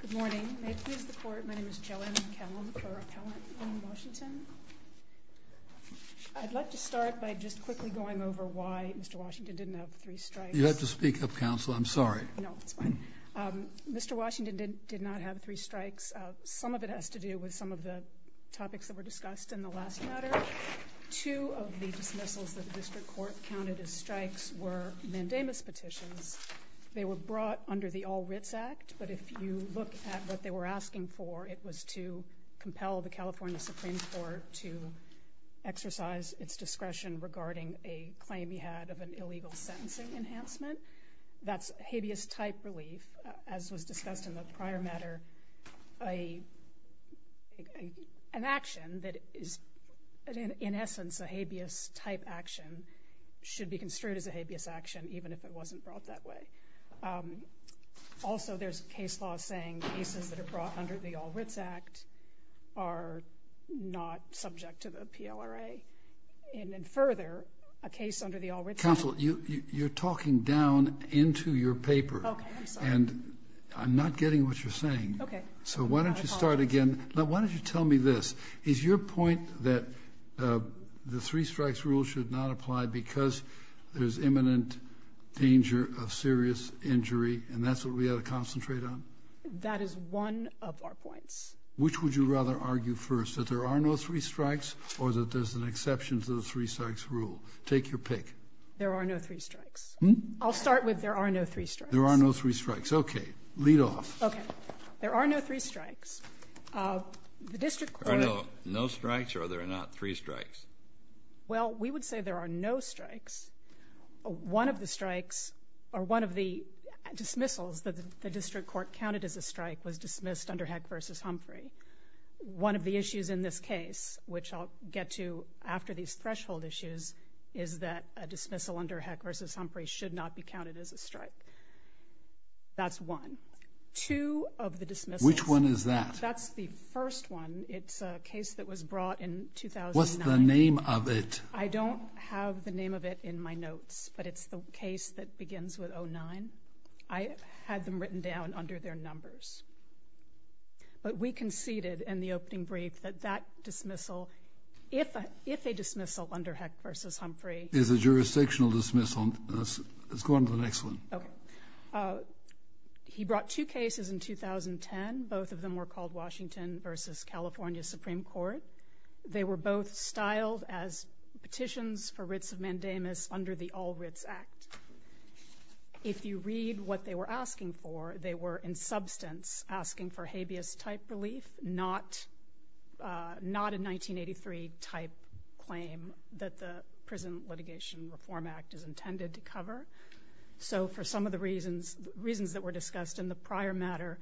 Good morning. May it please the Court, my name is Joanne Callum, Pro Rappellant in Washington. I'd like to start by just quickly going over why Mr. Washington didn't have three strikes. You have to speak up, Counsel. I'm sorry. No, it's fine. Mr. Washington did not have three strikes. Some of it has to do with some of the topics that were discussed in the last matter. Two of the dismissals that the District Court counted as strikes were mandamus petitions. They were brought under the All Writs Act, but if you look at what they were asking for, it was to compel the California Supreme Court to exercise its discretion regarding a claim he had of an illegal sentencing enhancement. That's habeas type relief, as was discussed in the prior matter. An action that is in essence a habeas type action should be construed as a habeas action, even if it wasn't brought that way. Also, there's a case law saying cases that are brought under the All Writs Act are not subject to the PLRA. And then further, a case under the All Writs Act- Counsel, you're talking down into your paper. Okay, I'm sorry. And I'm not getting what you're saying. Okay. So why don't you start again? Why don't you tell me this? Is your point that the three strikes rule should not apply because there's imminent danger of serious injury, and that's what we ought to concentrate on? That is one of our points. Which would you rather argue first, that there are no three strikes or that there's an exception to the three strikes rule? Take your pick. There are no three strikes. Hmm? I'll start with there are no three strikes. There are no three strikes. Okay. Lead off. Okay. There are no three strikes. The district court- There are no strikes or there are not three strikes? Well, we would say there are no strikes. One of the strikes or one of the dismissals that the district court counted as a strike was dismissed under Heck v. Humphrey. One of the issues in this case, which I'll get to after these threshold issues, is that a dismissal under Heck v. Humphrey should not be counted as a strike. That's one. Two of the dismissals- Which one is that? That's the first one. It's a case that was brought in 2009. What's the name of it? I don't have the name of it in my notes, but it's the case that begins with 09. I had them written down under their numbers. But we conceded in the opening brief that that dismissal, if a dismissal under Heck v. Humphrey- It's a jurisdictional dismissal. Let's go on to the next one. Okay. He brought two cases in 2010. Both of them were called Washington v. California Supreme Court. They were both styled as petitions for writs of mandamus under the All Writs Act. If you read what they were asking for, they were, in substance, asking for habeas-type relief, not a 1983-type claim that the Prison Litigation Reform Act is intended to cover. So for some of the reasons that were discussed in the prior matter,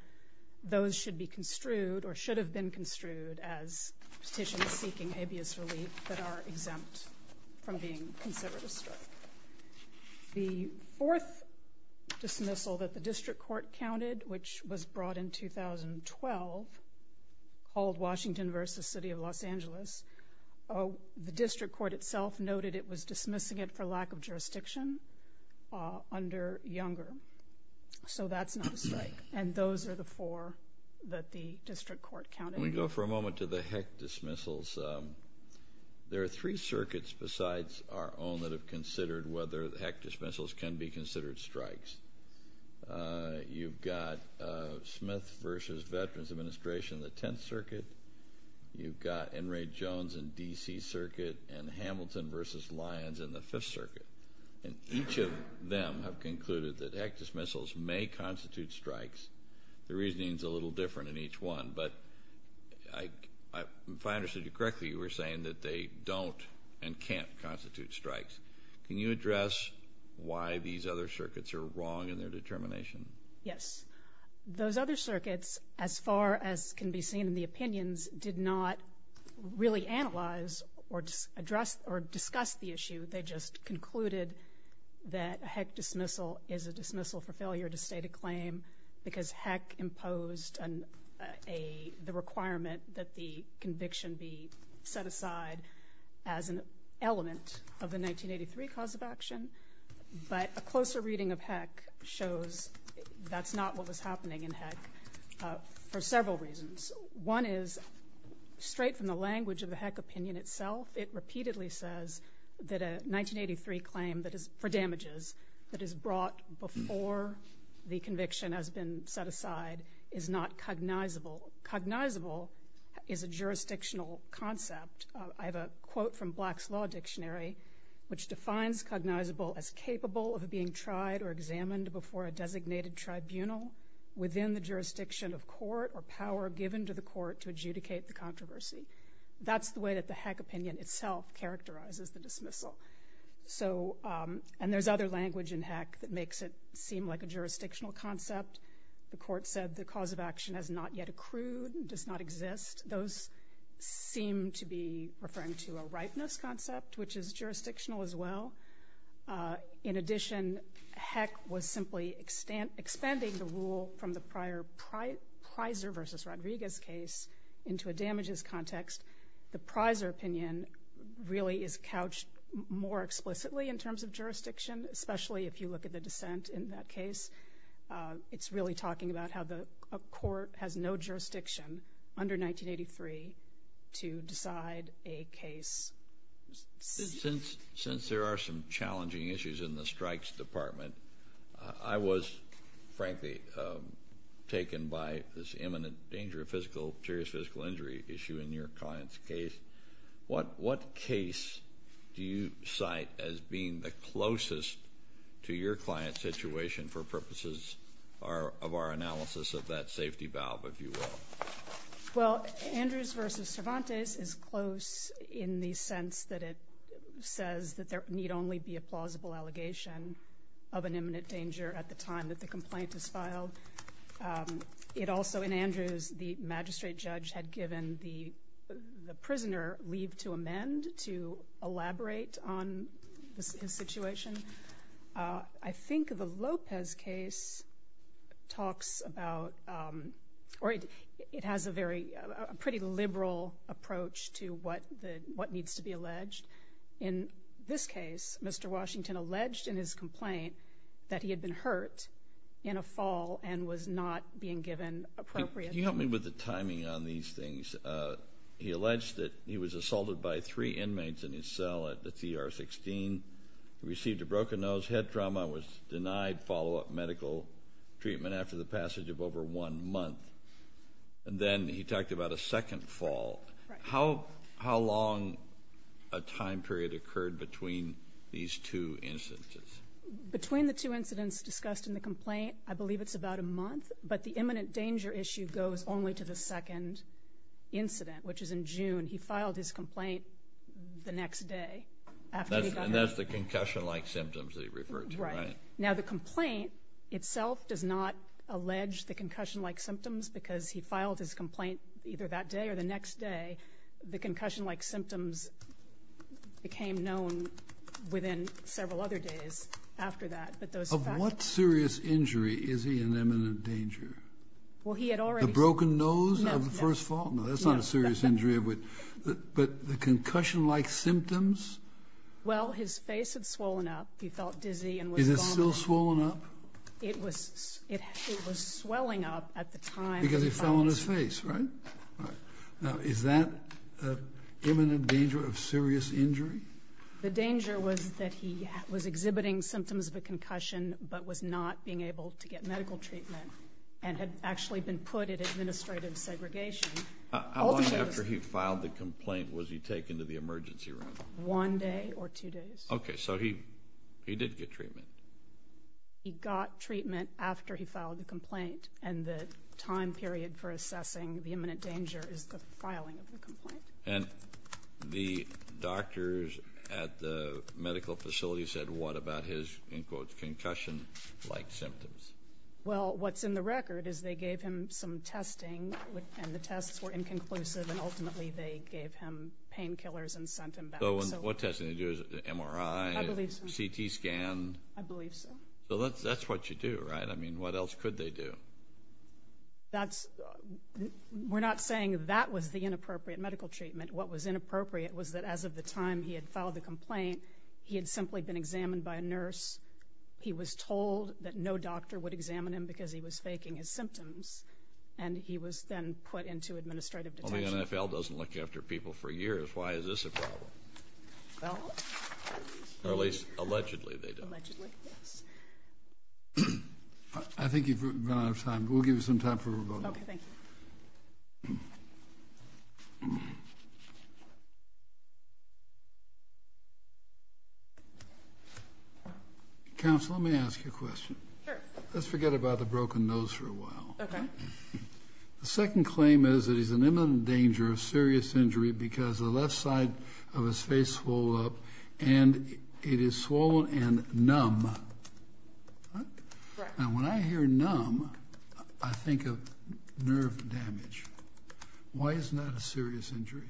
those should be construed, or should have been construed, as petitions seeking habeas relief that are exempt from being considered a strike. The fourth dismissal that the district court counted, which was brought in 2012, called Washington v. City of Los Angeles, the district court itself noted it was dismissing it for lack of jurisdiction under Younger. So that's not a strike. And those are the four that the district court counted. When we go for a moment to the HEC dismissals, there are three circuits besides our own that have considered whether HEC dismissals can be considered strikes. You've got Smith v. Veterans Administration in the Tenth Circuit. You've got Enright-Jones in D.C. Circuit and Hamilton v. Lyons in the Fifth Circuit. And each of them have concluded that HEC dismissals may constitute strikes. The reasoning is a little different in each one, but if I understood you correctly, you were saying that they don't and can't constitute strikes. Can you address why these other circuits are wrong in their determination? Yes. Those other circuits, as far as can be seen in the opinions, did not really analyze or discuss the issue. They just concluded that a HEC dismissal is a dismissal for failure to state a claim because HEC imposed the requirement that the conviction be set aside as an element of the 1983 cause of action. But a closer reading of HEC shows that's not what was happening in HEC for several reasons. One is, straight from the language of the HEC opinion itself, it repeatedly says that a 1983 claim for damages that is brought before the conviction has been set aside is not cognizable. Cognizable is a jurisdictional concept. I have a quote from Black's Law Dictionary, which defines cognizable as capable of being tried or examined before a designated tribunal within the jurisdiction of court or power given to the court to adjudicate the controversy. That's the way that the HEC opinion itself characterizes the dismissal. And there's other language in HEC that makes it seem like a jurisdictional concept. The court said the cause of action has not yet accrued and does not exist. Those seem to be referring to a ripeness concept, which is jurisdictional as well. In addition, HEC was simply expanding the rule from the prior Pizer v. Rodriguez case into a damages context. The Pizer opinion really is couched more explicitly in terms of jurisdiction, especially if you look at the dissent in that case. It's really talking about how a court has no jurisdiction under 1983 to decide a case. Since there are some challenging issues in the strikes department, I was frankly taken by this imminent danger of serious physical injury issue in your client's case. What case do you cite as being the closest to your client's situation for purposes of our analysis of that safety valve, if you will? Well, Andrews v. Cervantes is close in the sense that it says that there need only be a plausible allegation of an imminent danger at the time that the complaint is filed. It also, in Andrews, the magistrate judge had given the prisoner leave to amend to elaborate on his situation. I think the Lopez case talks about or it has a very pretty liberal approach to what needs to be alleged. In this case, Mr. Washington alleged in his complaint that he had been hurt in a fall and was not being given appropriate treatment. Can you help me with the timing on these things? He alleged that he was assaulted by three inmates in his cell at the CR-16. He received a broken nose, head trauma, was denied follow-up medical treatment after the passage of over one month. And then he talked about a second fall. How long a time period occurred between these two instances? Between the two incidents discussed in the complaint, I believe it's about a month, but the imminent danger issue goes only to the second incident, which is in June. He filed his complaint the next day after he got hurt. And that's the concussion-like symptoms that he referred to, right? Right. Now, the complaint itself does not allege the concussion-like symptoms because he filed his complaint either that day or the next day. The concussion-like symptoms became known within several other days after that. Of what serious injury is he in imminent danger? The broken nose of the first fall? No, no. But the concussion-like symptoms? Well, his face had swollen up. He felt dizzy. Is it still swollen up? It was swelling up at the time. Because it fell on his face, right? Right. Now, is that an imminent danger of serious injury? The danger was that he was exhibiting symptoms of a concussion but was not being able to get medical treatment and had actually been put in administrative segregation. How long after he filed the complaint was he taken to the emergency room? One day or two days. Okay. So he did get treatment? He got treatment after he filed the complaint. And the time period for assessing the imminent danger is the filing of the complaint. And the doctors at the medical facility said what about his, in quotes, concussion-like symptoms? Well, what's in the record is they gave him some testing and the tests were inconclusive, and ultimately they gave him painkillers and sent him back. So what testing did they do? MRI? I believe so. CT scan? I believe so. So that's what you do, right? I mean, what else could they do? We're not saying that was the inappropriate medical treatment. What was inappropriate was that as of the time he had filed the complaint, he had simply been examined by a nurse. He was told that no doctor would examine him because he was faking his symptoms, and he was then put into administrative detention. Well, the NFL doesn't look after people for years. Why is this a problem? Or at least allegedly they don't. Allegedly, yes. I think you've run out of time. We'll give you some time for a vote. Okay, thank you. Counsel, let me ask you a question. Sure. Let's forget about the broken nose for a while. Okay. The second claim is that he's in imminent danger of serious injury because the left side of his face swollen up, and it is swollen and numb. Right. And when I hear numb, I think of nerve damage. Why isn't that a serious injury?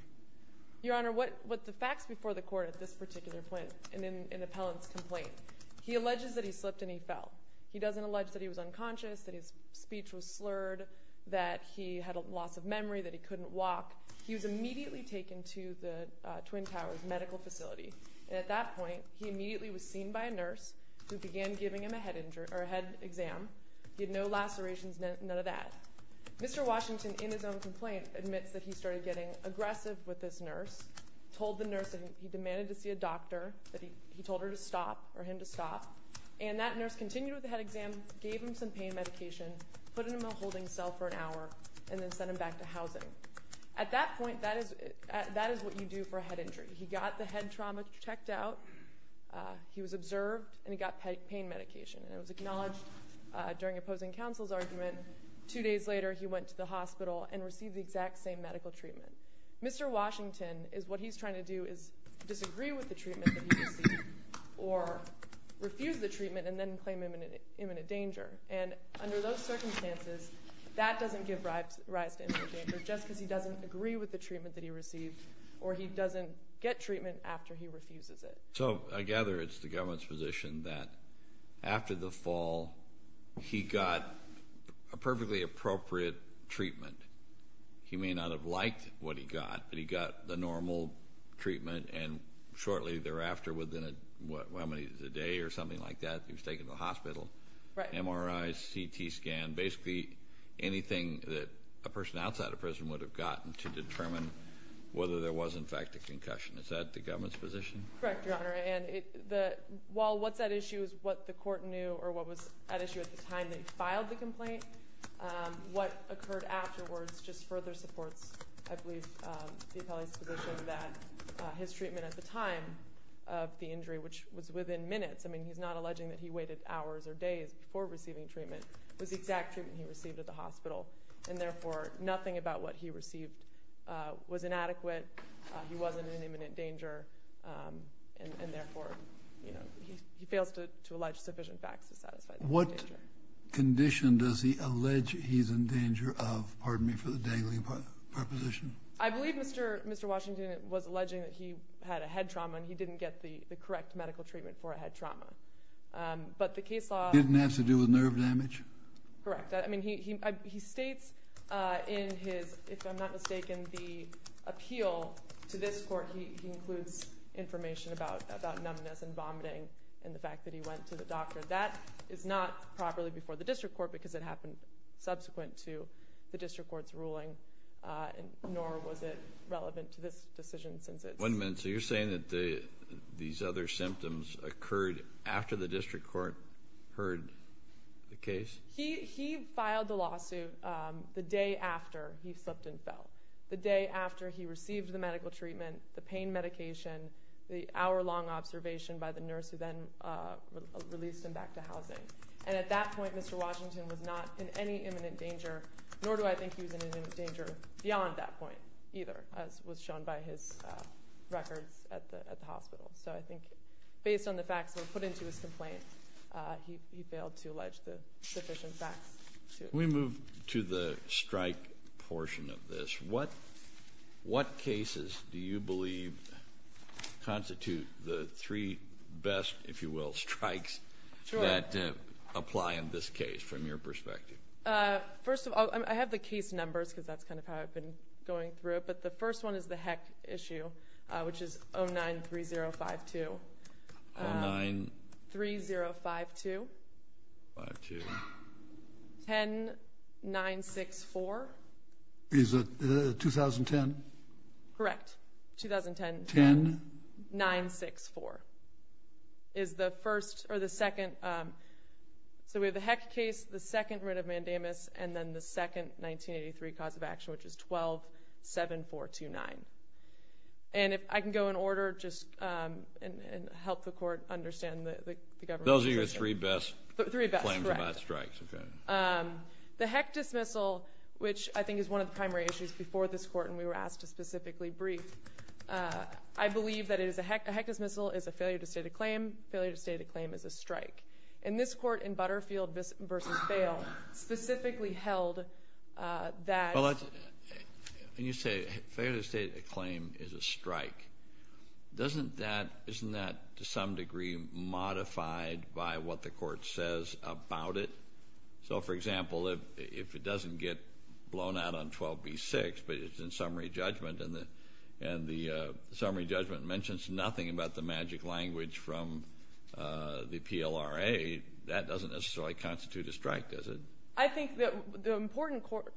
Your Honor, what the facts before the Court at this particular point in Appellant's complaint, he alleges that he slipped and he fell. He doesn't allege that he was unconscious, that his speech was slurred, that he had a loss of memory, that he couldn't walk. He was immediately taken to the Twin Towers Medical Facility, and at that point he immediately was seen by a nurse who began giving him a head exam. He had no lacerations, none of that. Mr. Washington, in his own complaint, admits that he started getting aggressive with this nurse, told the nurse that he demanded to see a doctor, that he told her to stop or him to stop, and that nurse continued with the head exam, gave him some pain medication, put him in a holding cell for an hour, and then sent him back to housing. At that point, that is what you do for a head injury. He got the head trauma checked out, he was observed, and he got pain medication, and it was acknowledged during opposing counsel's argument. Two days later, he went to the hospital and received the exact same medical treatment. Mr. Washington, what he's trying to do is disagree with the treatment that he received or refuse the treatment and then claim imminent danger. And under those circumstances, that doesn't give rise to imminent danger, just because he doesn't agree with the treatment that he received or he doesn't get treatment after he refuses it. So I gather it's the government's position that after the fall, he got a perfectly appropriate treatment. He may not have liked what he got, but he got the normal treatment, and shortly thereafter, within a day or something like that, he was taken to the hospital. MRI, CT scan, basically anything that a person outside of prison would have gotten to determine whether there was in fact a concussion. Is that the government's position? Correct, Your Honor. While what's at issue is what the court knew or what was at issue at the time they filed the complaint, what occurred afterwards just further supports, I believe, the appellee's position that his treatment at the time of the injury, which was within minutes, I mean he's not alleging that he waited hours or days before receiving treatment, was the exact treatment he received at the hospital, and therefore nothing about what he received was inadequate, he wasn't in imminent danger, and therefore he fails to allege sufficient facts to satisfy the imminent danger. What condition does he allege he's in danger of, pardon me for the dangling proposition? I believe Mr. Washington was alleging that he had a head trauma and he didn't get the correct medical treatment for a head trauma. But the case law... Didn't have to do with nerve damage? Correct. I mean, he states in his, if I'm not mistaken, the appeal to this court, he includes information about numbness and vomiting and the fact that he went to the doctor. That is not properly before the district court because it happened subsequent to the district court's ruling, nor was it relevant to this decision since it's... One minute, so you're saying that these other symptoms occurred after the district court heard the case? He filed the lawsuit the day after he slipped and fell, the day after he received the medical treatment, the pain medication, the hour-long observation by the nurse who then released him back to housing. And at that point, Mr. Washington was not in any imminent danger, nor do I think he was in imminent danger beyond that point either, as was shown by his records at the hospital. So I think based on the facts that were put into his complaint, he failed to allege the sufficient facts. Can we move to the strike portion of this? What cases do you believe constitute the three best, if you will, strikes that apply in this case from your perspective? First of all, I have the case numbers because that's kind of how I've been going through it, but the first one is the HEC issue, which is 093052. 09? 3052. 502. 10964. Is it 2010? Correct. 2010. 10? 964 is the first or the second. So we have the HEC case, the second writ of mandamus, and then the second 1983 cause of action, which is 127429. And if I can go in order, just help the Court understand the government. Those are your three best claims about strikes? Three best, correct. The HEC dismissal, which I think is one of the primary issues before this Court and we were asked to specifically brief, I believe that a HEC dismissal is a failure to state a claim. Failure to state a claim is a strike. And this Court in Butterfield v. Bail specifically held that. When you say failure to state a claim is a strike, isn't that to some degree modified by what the Court says about it? So, for example, if it doesn't get blown out on 12b-6, but it's in summary judgment and the summary judgment mentions nothing about the magic language from the PLRA, that doesn't necessarily constitute a strike, does it? I think the important court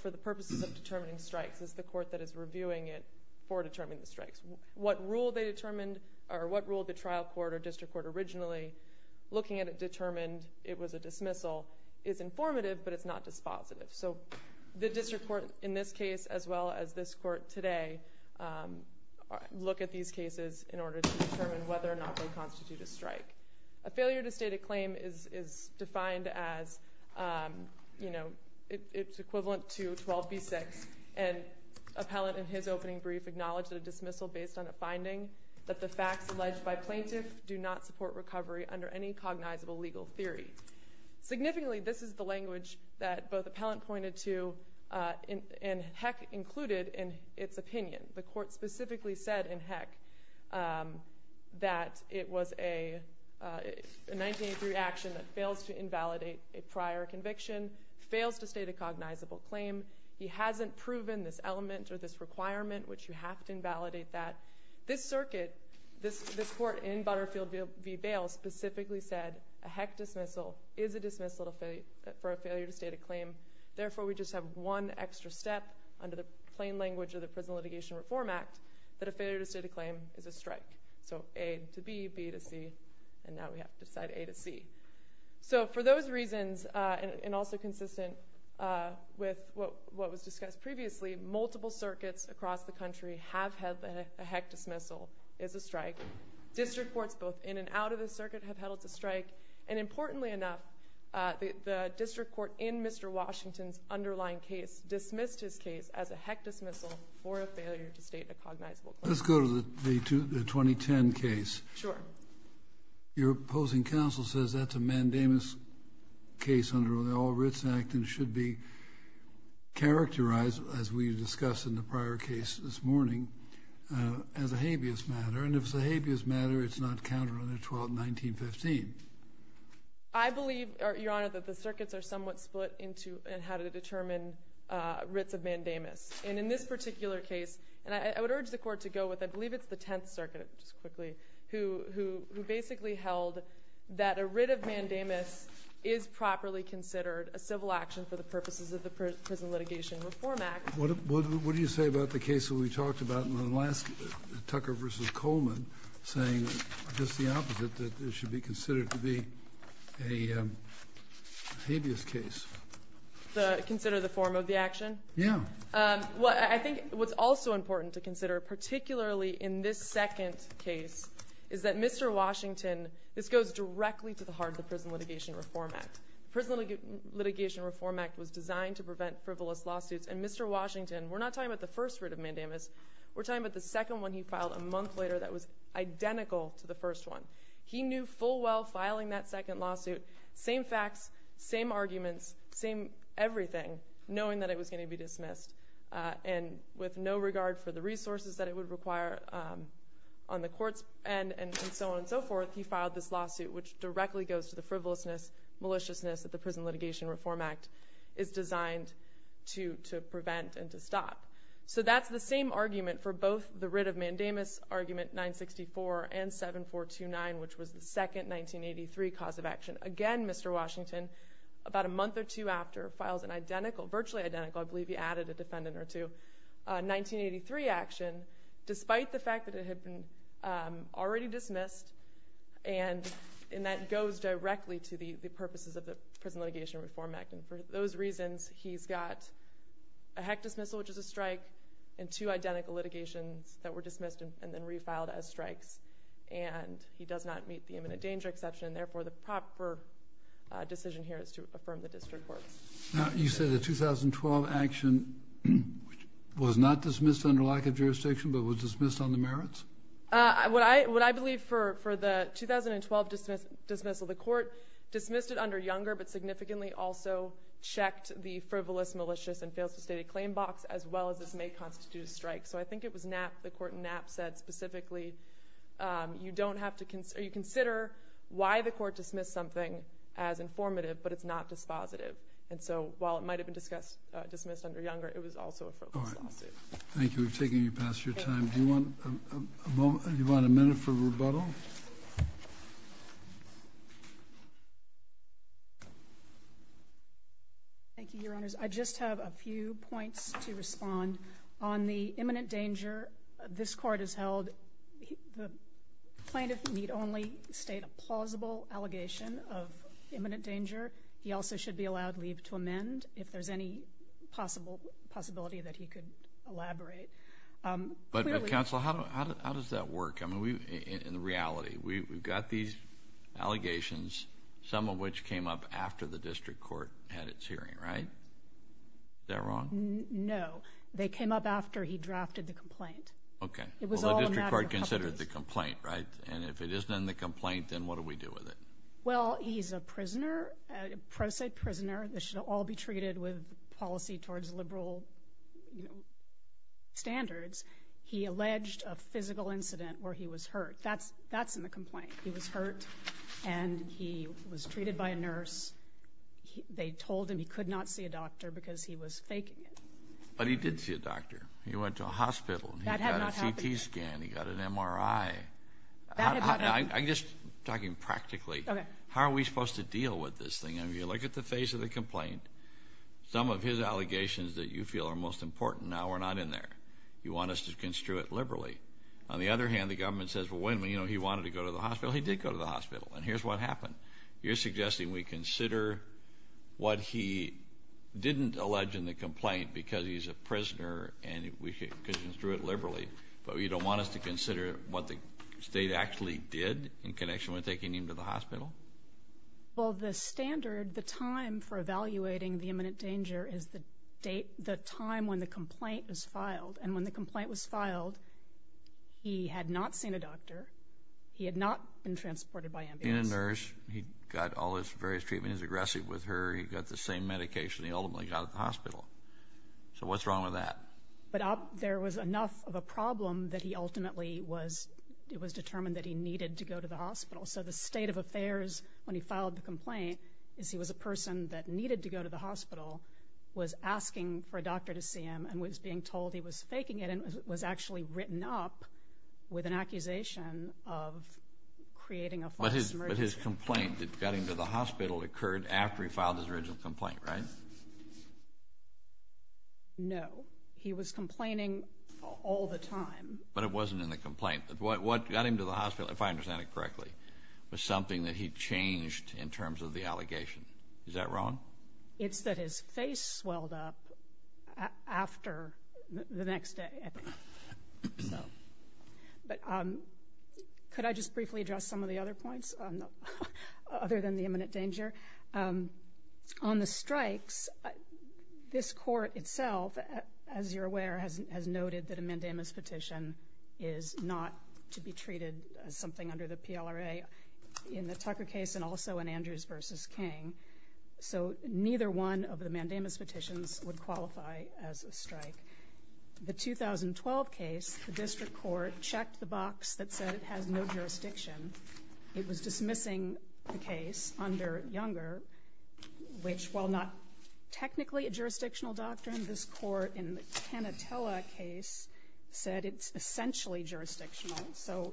for the purposes of determining strikes is the court that is reviewing it for determining the strikes. What rule they determined or what rule the trial court or district court originally, looking at it, determined it was a dismissal, is informative, but it's not dispositive. So the district court in this case, as well as this Court today, look at these cases in order to determine whether or not they constitute a strike. A failure to state a claim is defined as, you know, it's equivalent to 12b-6. And Appellant, in his opening brief, acknowledged that a dismissal based on a finding that the facts alleged by plaintiff do not support recovery under any cognizable legal theory. Significantly, this is the language that both Appellant pointed to and Heck included in its opinion. The Court specifically said in Heck that it was a 1983 action that fails to invalidate a prior conviction, fails to state a cognizable claim. He hasn't proven this element or this requirement, which you have to invalidate that. This circuit, this court in Butterfield v. Bales, specifically said a Heck dismissal is a dismissal for a failure to state a claim. Therefore, we just have one extra step under the plain language of the Prison Litigation Reform Act that a failure to state a claim is a strike. So A to B, B to C, and now we have to decide A to C. So for those reasons, and also consistent with what was discussed previously, multiple circuits across the country have held that a Heck dismissal is a strike. District courts, both in and out of the circuit, have held it's a strike. And importantly enough, the district court in Mr. Washington's underlying case dismissed his case as a Heck dismissal for a failure to state a cognizable claim. Let's go to the 2010 case. Sure. Your opposing counsel says that's a mandamus case under the All Writs Act and should be characterized, as we discussed in the prior case this morning, as a habeas matter. And if it's a habeas matter, it's not counted under 1219.15. I believe, Your Honor, that the circuits are somewhat split into how to determine writs of mandamus. And in this particular case, and I would urge the court to go with, I believe it's the Tenth Circuit, just quickly, who basically held that a writ of mandamus is properly considered a civil action for the purposes of the Prison Litigation Reform Act. What do you say about the case that we talked about in the last, Tucker v. Coleman, saying just the opposite, that it should be considered to be a habeas case? Consider the form of the action? Yeah. I think what's also important to consider, particularly in this second case, is that Mr. Washington, this goes directly to the heart of the Prison Litigation Reform Act. The Prison Litigation Reform Act was designed to prevent frivolous lawsuits, and Mr. Washington, we're not talking about the first writ of mandamus, we're talking about the second one he filed a month later that was identical to the first one. He knew full well, filing that second lawsuit, same facts, same arguments, same everything, knowing that it was going to be dismissed. And with no regard for the resources that it would require on the court's end and so on and so forth, he filed this lawsuit, which directly goes to the frivolousness, maliciousness, that the Prison Litigation Reform Act is designed to prevent and to stop. So that's the same argument for both the writ of mandamus argument 964 and 7429, which was the second 1983 cause of action. Again, Mr. Washington, about a month or two after, files an identical, virtually identical, I believe he added a defendant or two, 1983 action, despite the fact that it had been already dismissed, and that goes directly to the purposes of the Prison Litigation Reform Act. And for those reasons, he's got a hectus missile, which is a strike, and two identical litigations that were dismissed and then refiled as strikes. And he does not meet the imminent danger exception, and therefore the proper decision here is to affirm the district courts. Now, you said the 2012 action was not dismissed under lack of jurisdiction, but was dismissed on the merits? What I believe for the 2012 dismissal, the court dismissed it under younger, but significantly also checked the frivolous, malicious, and fails to state a claim box, as well as this may constitute a strike. So I think it was Knapp, the court in Knapp said specifically, you consider why the court dismissed something as informative, but it's not dispositive. And so while it might have been dismissed under younger, it was also a frivolous lawsuit. Thank you. We've taken you past your time. Do you want a minute for rebuttal? Thank you, Your Honors. I just have a few points to respond. On the imminent danger, this court has held the plaintiff need only state a plausible allegation of imminent danger. He also should be allowed leave to amend if there's any possibility that he could elaborate. But counsel, how does that work? I mean, in reality, we've got these allegations, some of which came up after the district court had its hearing, right? Is that wrong? No. They came up after he drafted the complaint. Okay. Well, the district court considered the complaint, right? And if it isn't in the complaint, then what do we do with it? Well, he's a prisoner, a pro se prisoner. This should all be treated with policy towards liberal standards. He alleged a physical incident where he was hurt. That's in the complaint. He was hurt, and he was treated by a nurse. They told him he could not see a doctor because he was faking it. But he did see a doctor. He went to a hospital. That had not happened. He got a CT scan. He got an MRI. That had not happened. I'm just talking practically. Okay. How are we supposed to deal with this thing? I mean, you look at the face of the complaint. Some of his allegations that you feel are most important now are not in there. You want us to construe it liberally. On the other hand, the government says, well, wait a minute, you know, he wanted to go to the hospital. He did go to the hospital. And here's what happened. You're suggesting we consider what he didn't allege in the complaint because he's a prisoner and we should construe it liberally, but you don't want us to consider what the state actually did in connection with taking him to the hospital? Well, the standard, the time for evaluating the imminent danger is the time when the complaint was filed. And when the complaint was filed, he had not seen a doctor. He had not been transported by ambulance. He had seen a nurse. He got all his various treatments. He was aggressive with her. He got the same medication he ultimately got at the hospital. So what's wrong with that? But there was enough of a problem that he ultimately was determined that he needed to go to the hospital. So the state of affairs when he filed the complaint is he was a person that needed to go to the hospital, was asking for a doctor to see him, and was being told he was faking it, and was actually written up with an accusation of creating a false emergency. But his complaint that got him to the hospital occurred after he filed his original complaint, right? No. He was complaining all the time. But it wasn't in the complaint. What got him to the hospital, if I understand it correctly, was something that he changed in terms of the allegation. Is that wrong? It's that his face swelled up after the next day. But could I just briefly address some of the other points other than the imminent danger? On the strikes, this court itself, as you're aware, has noted that a mandamus petition is not to be treated as something under the PLRA in the Tucker case and also in Andrews v. King. So neither one of the mandamus petitions would qualify as a strike. The 2012 case, the district court checked the box that said it has no jurisdiction. It was dismissing the case under Younger, which, while not technically a jurisdictional doctrine, this court in the Panatella case said it's essentially jurisdictional. So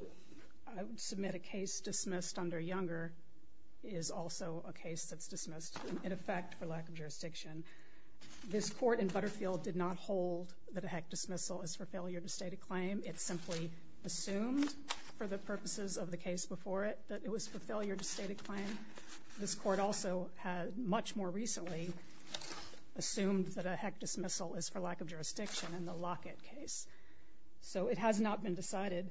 I would submit a case dismissed under Younger is also a case that's dismissed, in effect, for lack of jurisdiction. This court in Butterfield did not hold that a HEC dismissal is for failure to state a claim. It simply assumed for the purposes of the case before it that it was for failure to state a claim. This court also much more recently assumed that a HEC dismissal is for lack of jurisdiction in the Lockett case. So it has not been decided.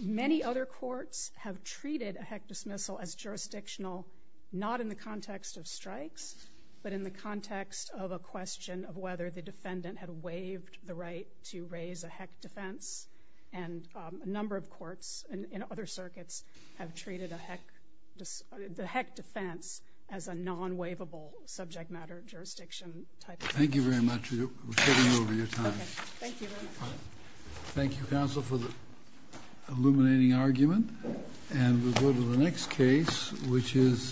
Many other courts have treated a HEC dismissal as jurisdictional, not in the context of strikes, but in the context of a question of whether the defendant had waived the right to raise a HEC defense. And a number of courts in other circuits have treated a HEC – the HEC defense as a non-waivable subject-matter jurisdiction. Thank you very much. We're getting over your time. Thank you very much. Thank you, counsel, for the illuminating argument. And we'll go to the next case, which is